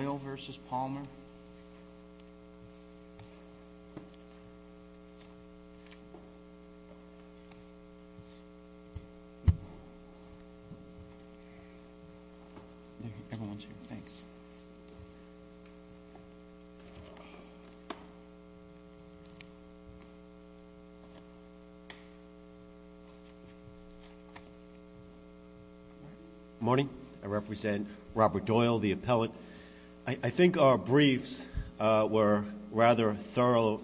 Good morning, I represent Robert Doyle, the appellate. I think our briefs were rather thorough,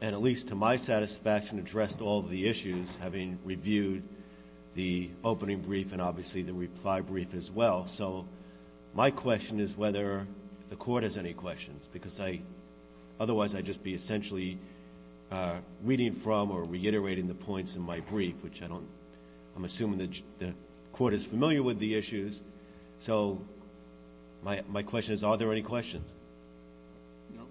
and at least to my satisfaction addressed all of the issues, having reviewed the opening brief and obviously the reply brief as well. So my question is whether the Court has any questions, because otherwise I'd just be essentially reading from or reiterating the points in my brief, which I'm assuming the Court is familiar with the issues. So my question is, are there any questions? No.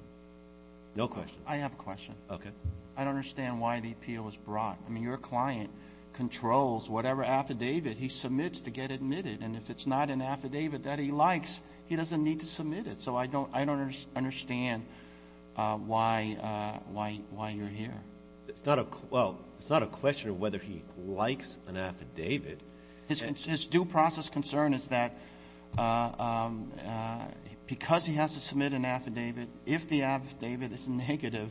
No questions. I have a question. Okay. I don't understand why the appeal was brought. I mean, your client controls whatever affidavit he submits to get admitted, and if it's not an affidavit that he likes, he doesn't need to submit it. So I don't understand why you're here. Well, it's not a question of whether he likes an affidavit. His due process concern is that because he has to submit an affidavit, if the affidavit is negative,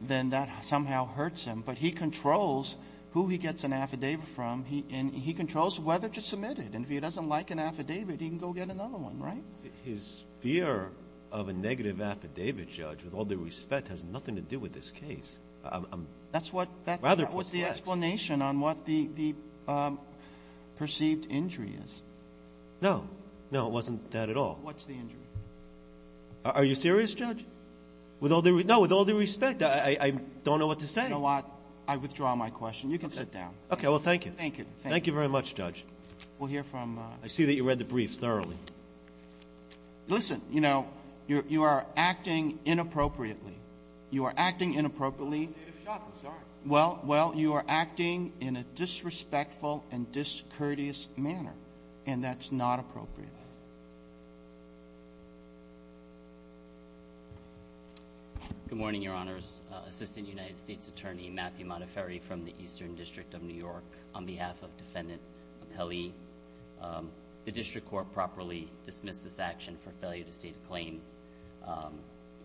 then that somehow hurts him. But he controls who he gets an affidavit from, and he controls whether to submit it. And if he doesn't like an affidavit, he can go get another one, right? His fear of a negative affidavit, Judge, with all due respect, has nothing to do with this case. I'm rather perplexed. That was the explanation on what the perceived injury is. No. No, it wasn't that at all. What's the injury? Are you serious, Judge? No, with all due respect, I don't know what to say. You know what? I withdraw my question. You can sit down. Okay. Well, thank you. Thank you. Thank you very much, Judge. I see that you read the briefs thoroughly. Listen, you know, you are acting inappropriately. You are acting inappropriately. I'm in a state of shock. I'm sorry. Well, you are acting in a disrespectful and discourteous manner, and that's not appropriate. Good morning, Your Honors. Assistant United States Attorney Matthew Monteferi from the Eastern District of New York. On behalf of Defendant Apelli, the district court properly dismissed this action for failure to state a claim.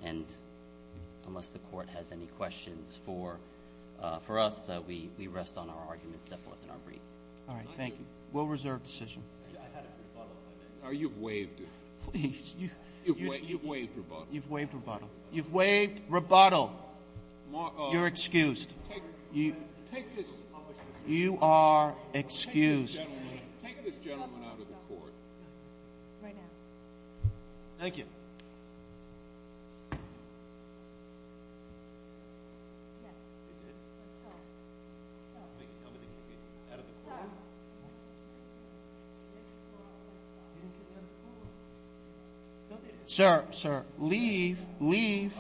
And unless the court has any questions for us, we rest on our arguments set forth in our brief. All right. Thank you. We'll reserve decision. I had a rebuttal. You've waived it. Please. You've waived rebuttal. You've waived rebuttal. You've waived rebuttal. You're excused. Take this opportunity. You are excused. Take this gentleman out of the court. Right now. Thank you. Thank you. Sir, sir. Leave. Leave.